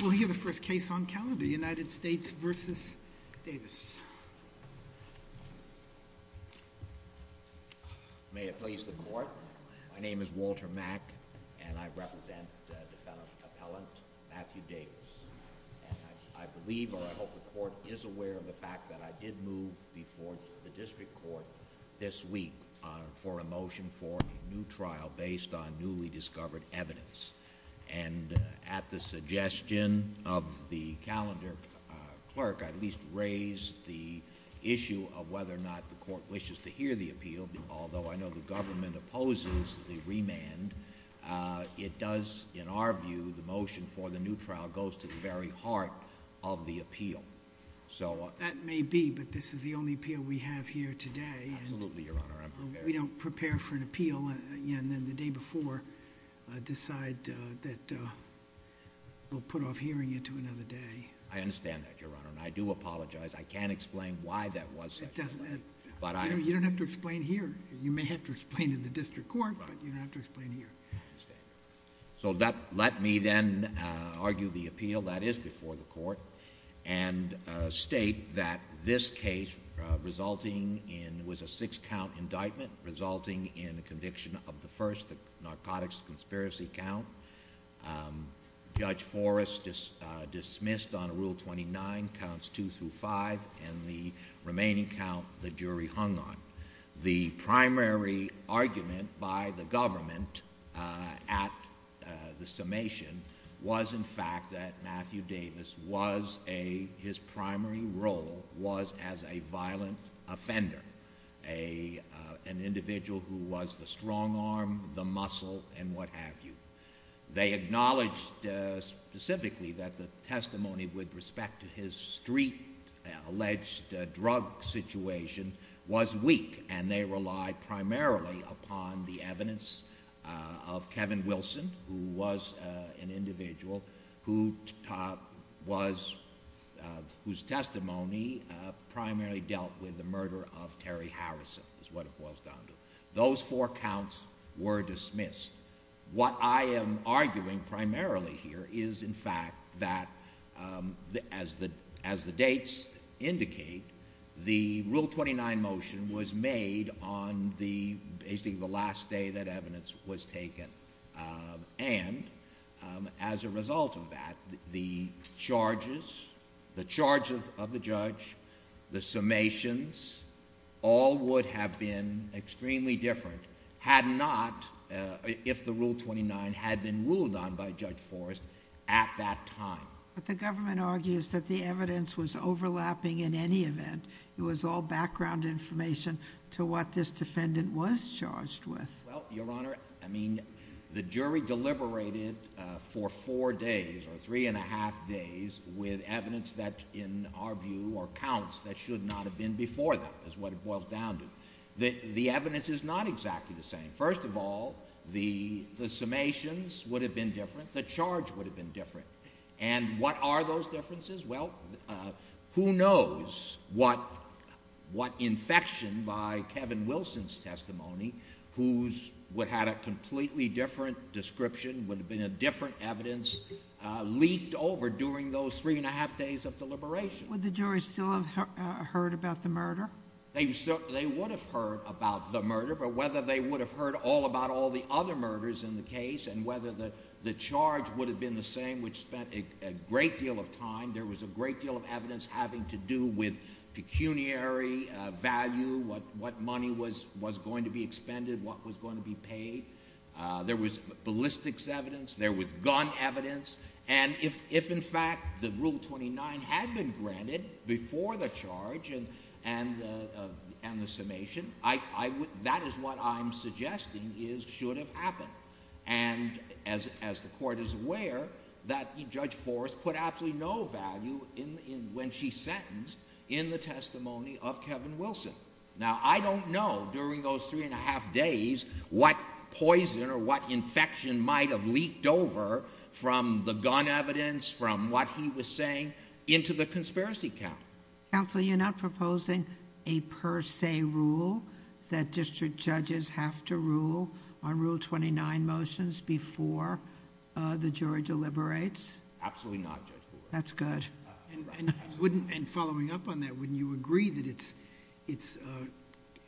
We'll hear the first case on calendar, United States v. Davis. May it please the court. My name is Walter Mack, and I represent defendant, appellant, Matthew Davis. I believe or I hope the court is aware of the fact that I did move before the district court this week for a motion for a new trial based on newly discovered evidence. And at the suggestion of the calendar clerk, I at least raised the issue of whether or not the court wishes to hear the appeal. Although I know the government opposes the remand, it does, in our view, the motion for the new trial goes to the very heart of the appeal. So- That may be, but this is the only appeal we have here today. Absolutely, Your Honor, I'm prepared. I'm prepared for an appeal, and then the day before, decide that we'll put off hearing it to another day. I understand that, Your Honor, and I do apologize. I can't explain why that was such a delay. But I- You don't have to explain here. You may have to explain in the district court, but you don't have to explain here. So let me then argue the appeal that is before the court and state that this case resulting in was a six count indictment resulting in conviction of the first narcotics conspiracy count. Judge Forrest dismissed on rule 29, counts two through five, and the remaining count the jury hung on. The primary argument by the government at the summation was in fact that Matthew Davis was a, his primary role was as a violent offender. An individual who was the strong arm, the muscle, and what have you. They acknowledged specifically that the testimony with respect to his street alleged drug situation was weak, and they relied primarily upon the evidence of Kevin Wilson, who was an individual whose testimony primarily dealt with the murder of Terry Harrison, is what it boils down to. Those four counts were dismissed. What I am arguing primarily here is, in fact, that as the dates indicate, the rule 29 motion was made on the, basically, the last day that evidence was taken. And as a result of that, the charges, the charges of the judge, the summations, all would have been extremely different. Had not, if the rule 29 had been ruled on by Judge Forrest at that time. But the government argues that the evidence was overlapping in any event. It was all background information to what this defendant was charged with. Well, your honor, I mean, the jury deliberated for four days or three and a half days with evidence that, in our view, or counts that should not have been before them, is what it boils down to. The evidence is not exactly the same. First of all, the summations would have been different, the charge would have been different. And what are those differences? Well, who knows what infection by Kevin Wilson's testimony, who's had a completely different description, would have been a different evidence, leaked over during those three and a half days of deliberation. Would the jury still have heard about the murder? They would have heard about the murder, but whether they would have heard all about all the other murders in the case, and whether the charge would have been the same, which spent a great deal of time. There was a great deal of evidence having to do with pecuniary value, what money was going to be expended, what was going to be paid. There was ballistics evidence, there was gun evidence. And if, in fact, the Rule 29 had been granted before the charge and the summation, that is what I'm suggesting should have happened. And as the court is aware, that Judge Forrest put absolutely no value when she sentenced in the testimony of Kevin Wilson. Now, I don't know, during those three and a half days, what poison or what infection might have leaked over from the gun evidence, from what he was saying, into the conspiracy count. Council, you're not proposing a per se rule that district judges have to rule on Rule 29 motions before the jury deliberates? Absolutely not, Judge Forrest. That's good. And following up on that, wouldn't you agree that it's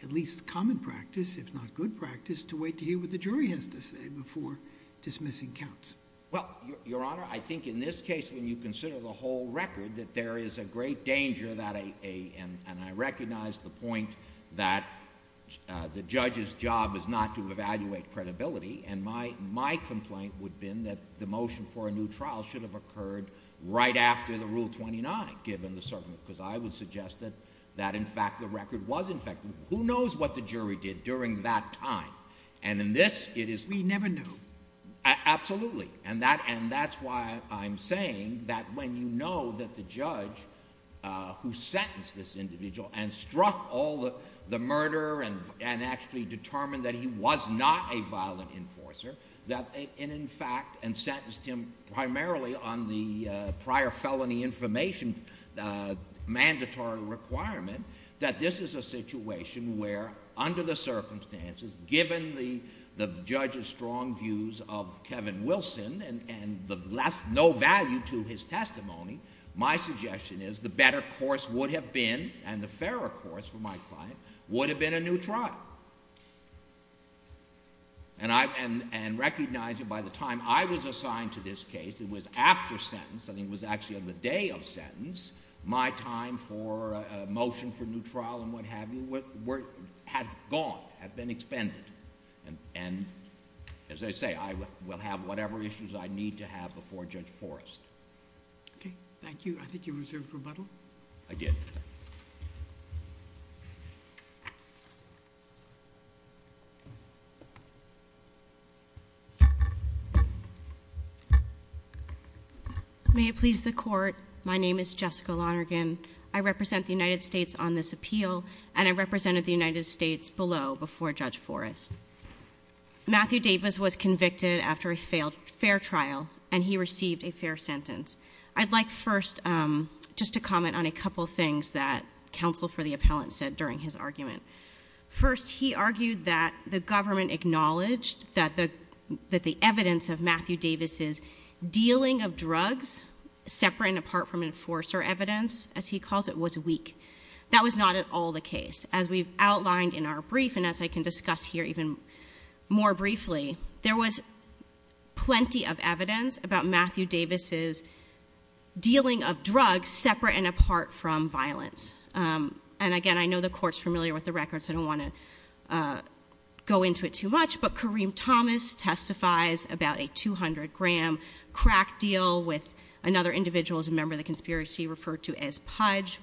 at least common practice, if not good practice, to wait to hear what the jury has to say before dismissing counts? Well, Your Honor, I think in this case, when you consider the whole record, that there is a great danger that a, and I recognize the point that the judge's job is not to evaluate credibility. And my complaint would have been that the motion for a new trial should have occurred right after the Rule 29, given the circumstances. because I would suggest that in fact, the record was infected. Who knows what the jury did during that time? And in this, it is- We never knew. Absolutely. And that's why I'm saying that when you know that the judge who sentenced this individual and the enforcer, that in fact, and sentenced him primarily on the prior felony information mandatory requirement, that this is a situation where under the circumstances, given the judge's strong views of Kevin Wilson and the no value to his testimony, my suggestion is the better course would have been, and the fairer course for my client, would have been a new trial. And I, and, and recognize that by the time I was assigned to this case, it was after sentence, I think it was actually on the day of sentence, my time for a motion for new trial and what have you were, were, had gone, had been expended. And, and, as I say, I will have whatever issues I need to have before Judge Forrest. Okay, thank you. I think you reserved rebuttal. I did. May it please the court. My name is Jessica Lonergan. I represent the United States on this appeal, and I represented the United States below before Judge Forrest. Matthew Davis was convicted after a failed fair trial, and he received a fair sentence. I'd like first just to comment on a couple things that counsel for the appellant said during his argument. First, he argued that the government acknowledged that the evidence of Matthew Davis's dealing of drugs separate and apart from enforcer evidence, as he calls it, was weak. That was not at all the case. As we've outlined in our brief, and as I can discuss here even more briefly, there was plenty of evidence about Matthew Davis's dealing of drugs separate and apart from violence. And again, I know the court's familiar with the records, I don't want to go into it too much, but Kareem Thomas testifies about a 200 gram crack deal with another individual who's a member of the conspiracy referred to as Pudge.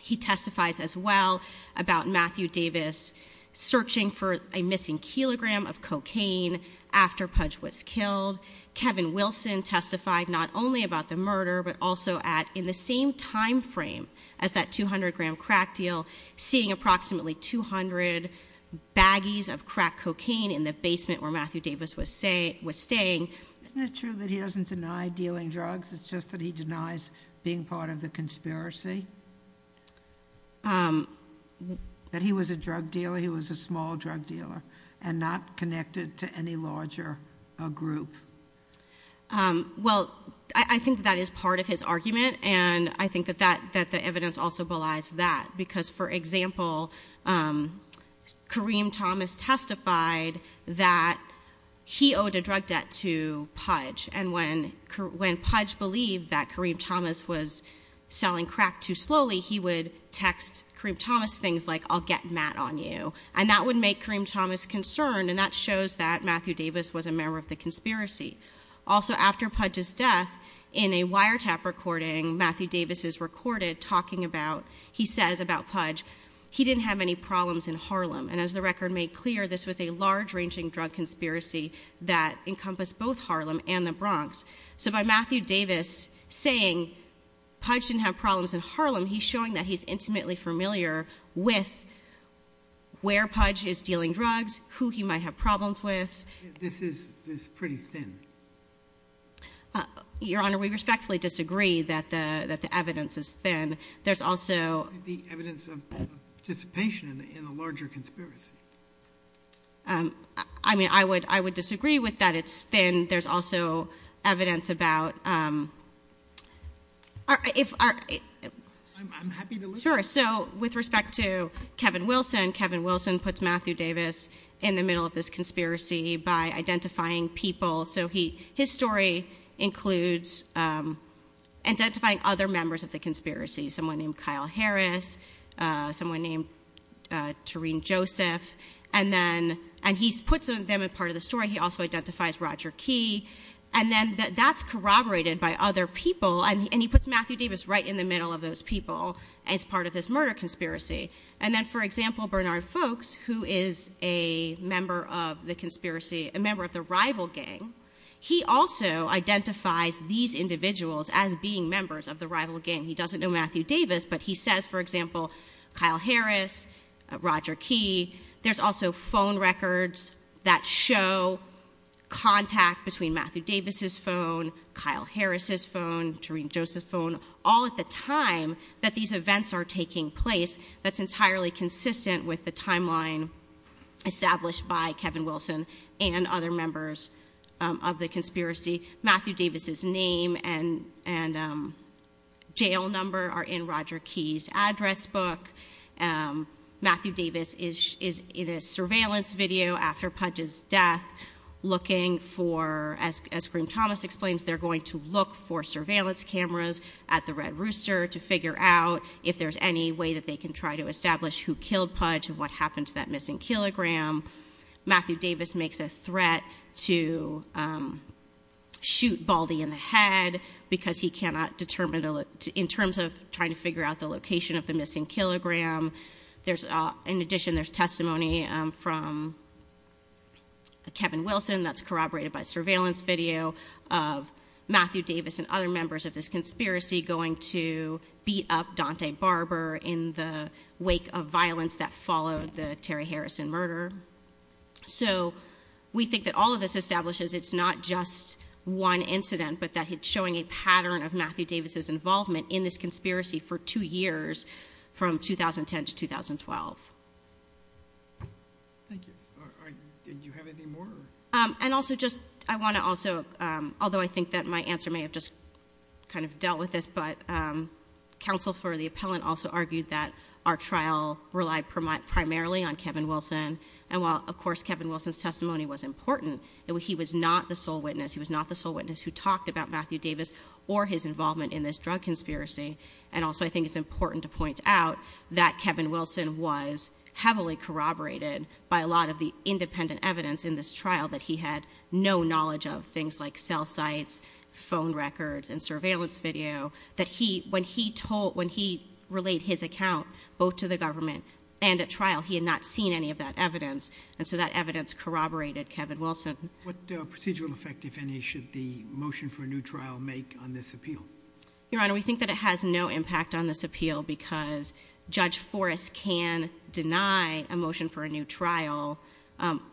He testifies as well about Matthew Davis searching for a missing kilogram of cocaine after Pudge was killed. Kevin Wilson testified not only about the murder, but also at, in the same time frame as that 200 gram crack deal, seeing approximately 200 baggies of crack cocaine in the basement where Matthew Davis was staying. Isn't it true that he doesn't deny dealing drugs, it's just that he denies being part of the conspiracy? That he was a drug dealer, he was a small drug dealer, and not connected to any larger group. Well, I think that is part of his argument, and I think that the evidence also belies that. Because for example, Kareem Thomas testified that he owed a drug debt to Pudge. And when Pudge believed that Kareem Thomas was selling crack too slowly, he would text Kareem Thomas things like, I'll get mad on you. And that would make Kareem Thomas concerned, and that shows that Matthew Davis was a member of the conspiracy. Also, after Pudge's death, in a wiretap recording, Matthew Davis is recorded talking about, he says about Pudge, he didn't have any problems in Harlem. And as the record made clear, this was a large ranging drug conspiracy that encompassed both Harlem and the Bronx. So by Matthew Davis saying Pudge didn't have problems in Harlem, he's showing that he's intimately familiar with where Pudge is dealing drugs, who he might have problems with. This is pretty thin. Your Honor, we respectfully disagree that the evidence is thin. There's also- The evidence of dissipation in a larger conspiracy. I mean, I would disagree with that it's thin. There's also evidence about, if our- Sure, so with respect to Kevin Wilson, Kevin Wilson puts Matthew Davis in the middle of this conspiracy by identifying people. So his story includes identifying other members of the conspiracy, someone named Kyle Harris, someone named Tareen Joseph. And he puts them in part of the story. He also identifies Roger Key. And then that's corroborated by other people. And he puts Matthew Davis right in the middle of those people as part of this murder conspiracy. And then, for example, Bernard Folks, who is a member of the conspiracy, a member of the rival gang. He also identifies these individuals as being members of the rival gang. He doesn't know Matthew Davis, but he says, for example, Kyle Harris, Roger Key. There's also phone records that show contact between Matthew Davis' phone, Kyle Harris' phone, Tareen Joseph's phone, all at the time that these events are taking place. That's entirely consistent with the timeline established by Kevin Wilson and other members of the conspiracy. Matthew Davis' name and jail number are in Roger Key's address book. Matthew Davis is in a surveillance video after Pudge's death looking for, as Green-Thomas explains, they're going to look for surveillance cameras at the Red Rooster to figure out if there's any way that they can try to establish who killed Pudge and what happened to that missing kilogram. Matthew Davis makes a threat to shoot Baldy in the head because he cannot determine, in terms of trying to figure out the location of the missing kilogram. In addition, there's testimony from Kevin Wilson, that's corroborated by surveillance video, of Matthew Davis and other members of this conspiracy going to beat up Dante Barber in the wake of violence that followed the Terry Harrison murder. So we think that all of this establishes it's not just one incident, but that it's showing a pattern of Matthew Davis' involvement in this conspiracy for two years, from 2010 to 2012. Thank you. Did you have anything more? And also just, I want to also, although I think that my answer may have just kind of dealt with this, but counsel for the appellant also argued that our trial relied primarily on Kevin Wilson. And while, of course, Kevin Wilson's testimony was important, he was not the sole witness. He was not the sole witness who talked about Matthew Davis or his involvement in this drug conspiracy. And also I think it's important to point out that Kevin Wilson was heavily corroborated by a lot of the independent evidence in this trial that he had no knowledge of. Things like cell sites, phone records, and surveillance video. That he, when he told, when he relayed his account, both to the government and at trial, he had not seen any of that evidence. And so that evidence corroborated Kevin Wilson. What procedural effect, if any, should the motion for a new trial make on this appeal? Your Honor, we think that it has no impact on this appeal because Judge Forrest can deny a motion for a new trial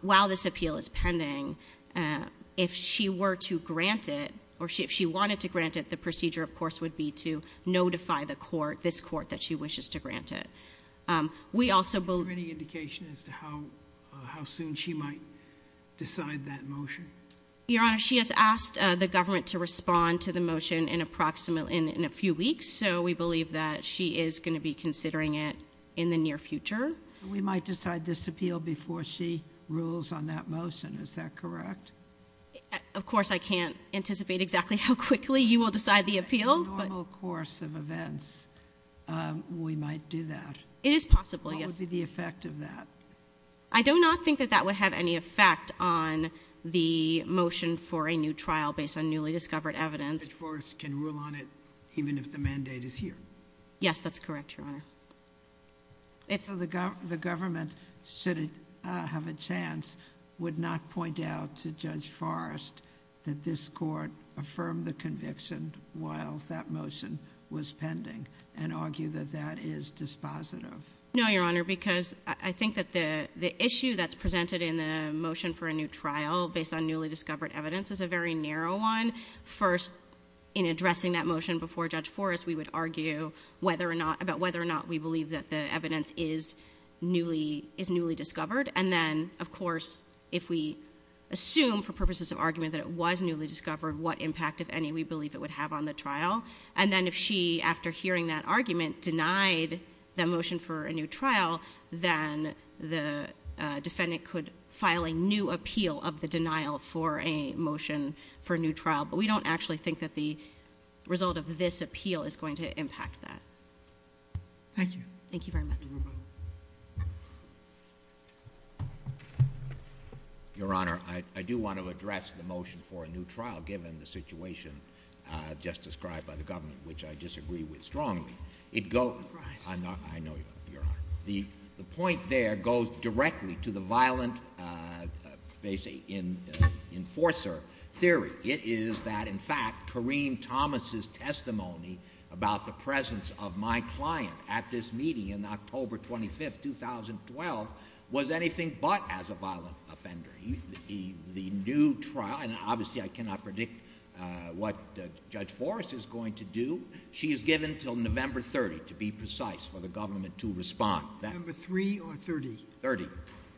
while this appeal is pending. If she were to grant it, or if she wanted to grant it, the procedure, of course, would be to notify the court, this court, that she wishes to grant it. We also believe- Is there any indication as to how soon she might decide that motion? Your Honor, she has asked the government to respond to the motion in approximately, in a few weeks. So we believe that she is going to be considering it in the near future. We might decide this appeal before she rules on that motion. Is that correct? Of course, I can't anticipate exactly how quickly you will decide the appeal, but- In the normal course of events, we might do that. It is possible, yes. What would be the effect of that? I do not think that that would have any effect on the motion for a new trial based on newly discovered evidence. Judge Forrest can rule on it even if the mandate is here. Yes, that's correct, Your Honor. So the government, should it have a chance, would not point out to Judge Forrest that this court affirmed the conviction while that motion was pending, and argue that that is dispositive? No, Your Honor, because I think that the issue that's presented in the motion for a new trial based on newly discovered evidence is a very narrow one. First, in addressing that motion before Judge Forrest, we would argue about whether or not we believe that the evidence is newly discovered. And then, of course, if we assume for purposes of argument that it was newly discovered, what impact, if any, we believe it would have on the trial. And then if she, after hearing that argument, denied the motion for a new trial, then the defendant could file a new appeal of the denial for a motion for a new trial, but we don't actually think that the result of this appeal is going to impact that. Thank you. Thank you very much. Your Honor, I do want to address the motion for a new trial, given the situation just described by the government, which I disagree with strongly. It goes, I know, Your Honor. The point there goes directly to the violent, basically, enforcer theory. It is that, in fact, Kareem Thomas' testimony about the presence of my client at this meeting in October 25th, 2012, was anything but as a violent offender. The new trial, and obviously I cannot predict what Judge Forrest is going to do. She is given until November 30th, to be precise, for the government to respond. That- November 3rd or 30th? 30th.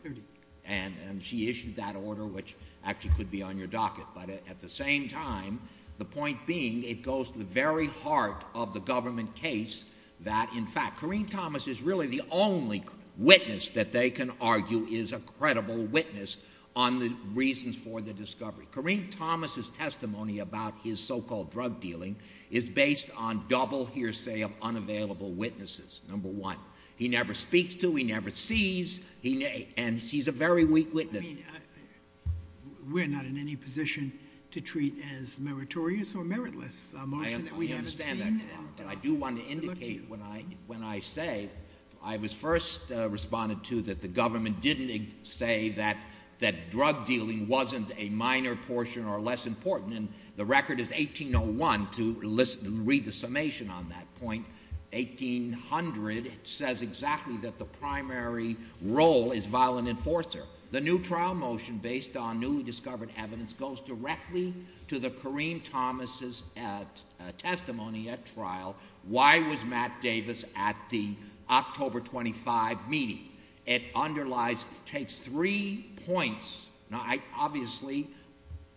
30th. And she issued that order, which actually could be on your docket. But at the same time, the point being, it goes to the very heart of the government case that, in fact, Kareem Thomas is really the only witness that they can argue is a credible witness on the reasons for the discovery. Kareem Thomas' testimony about his so-called drug dealing is based on double hearsay of unavailable witnesses, number one. He never speaks to, he never sees, and he's a very weak witness. I mean, we're not in any position to treat as meritorious or meritless a motion that we haven't seen. I understand that, Your Honor. I do want to indicate when I say, I was first responded to that the government didn't say that drug dealing wasn't a minor portion or less important. And the record is 1801 to read the summation on that point. 1800 says exactly that the primary role is violent enforcer. The new trial motion based on newly discovered evidence goes directly to the Kareem Thomas' testimony at trial. Why was Matt Davis at the October 25 meeting? It underlies, takes three points. Now, obviously,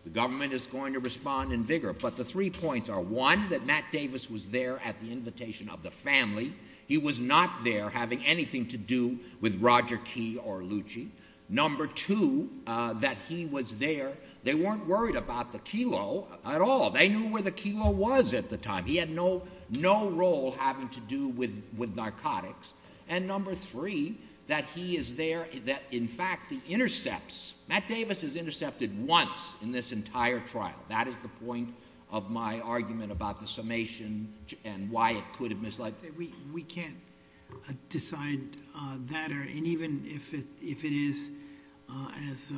the government is going to respond in vigor. But the three points are, one, that Matt Davis was there at the invitation of the family. He was not there having anything to do with Roger Key or Lucci. Number two, that he was there, they weren't worried about the kilo at all. They knew where the kilo was at the time. He had no role having to do with narcotics. And number three, that he is there, that in fact, the intercepts. Matt Davis is intercepted once in this entire trial. That is the point of my argument about the summation and why it could have misled. We can't decide that, and even if it is as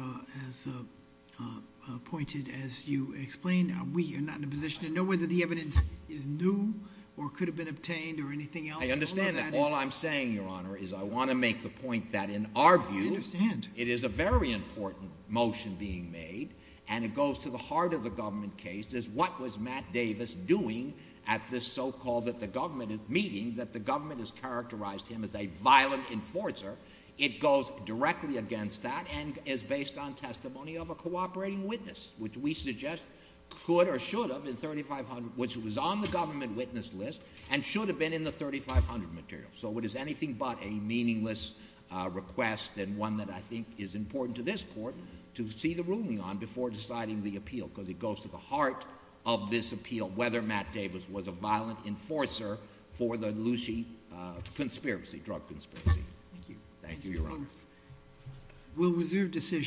pointed as you explained, we are not in a position to know whether the evidence is new or could have been obtained or anything else. I understand that. All I'm saying, Your Honor, is I want to make the point that in our view, it is a very important motion being made. And it goes to the heart of the government case is what was Matt Davis doing at this so called that the government is meeting, that the government has characterized him as a violent enforcer. It goes directly against that and is based on testimony of a cooperating witness, which we suggest could or should have been 3,500, which was on the government witness list. And should have been in the 3,500 material. So it is anything but a meaningless request and one that I think is important to this court to see the ruling on before deciding the appeal, because it goes to the heart of this appeal, whether Matt Davis was a violent enforcer for the Lucy drug conspiracy. Thank you. Thank you, Your Honor. Will reserve decision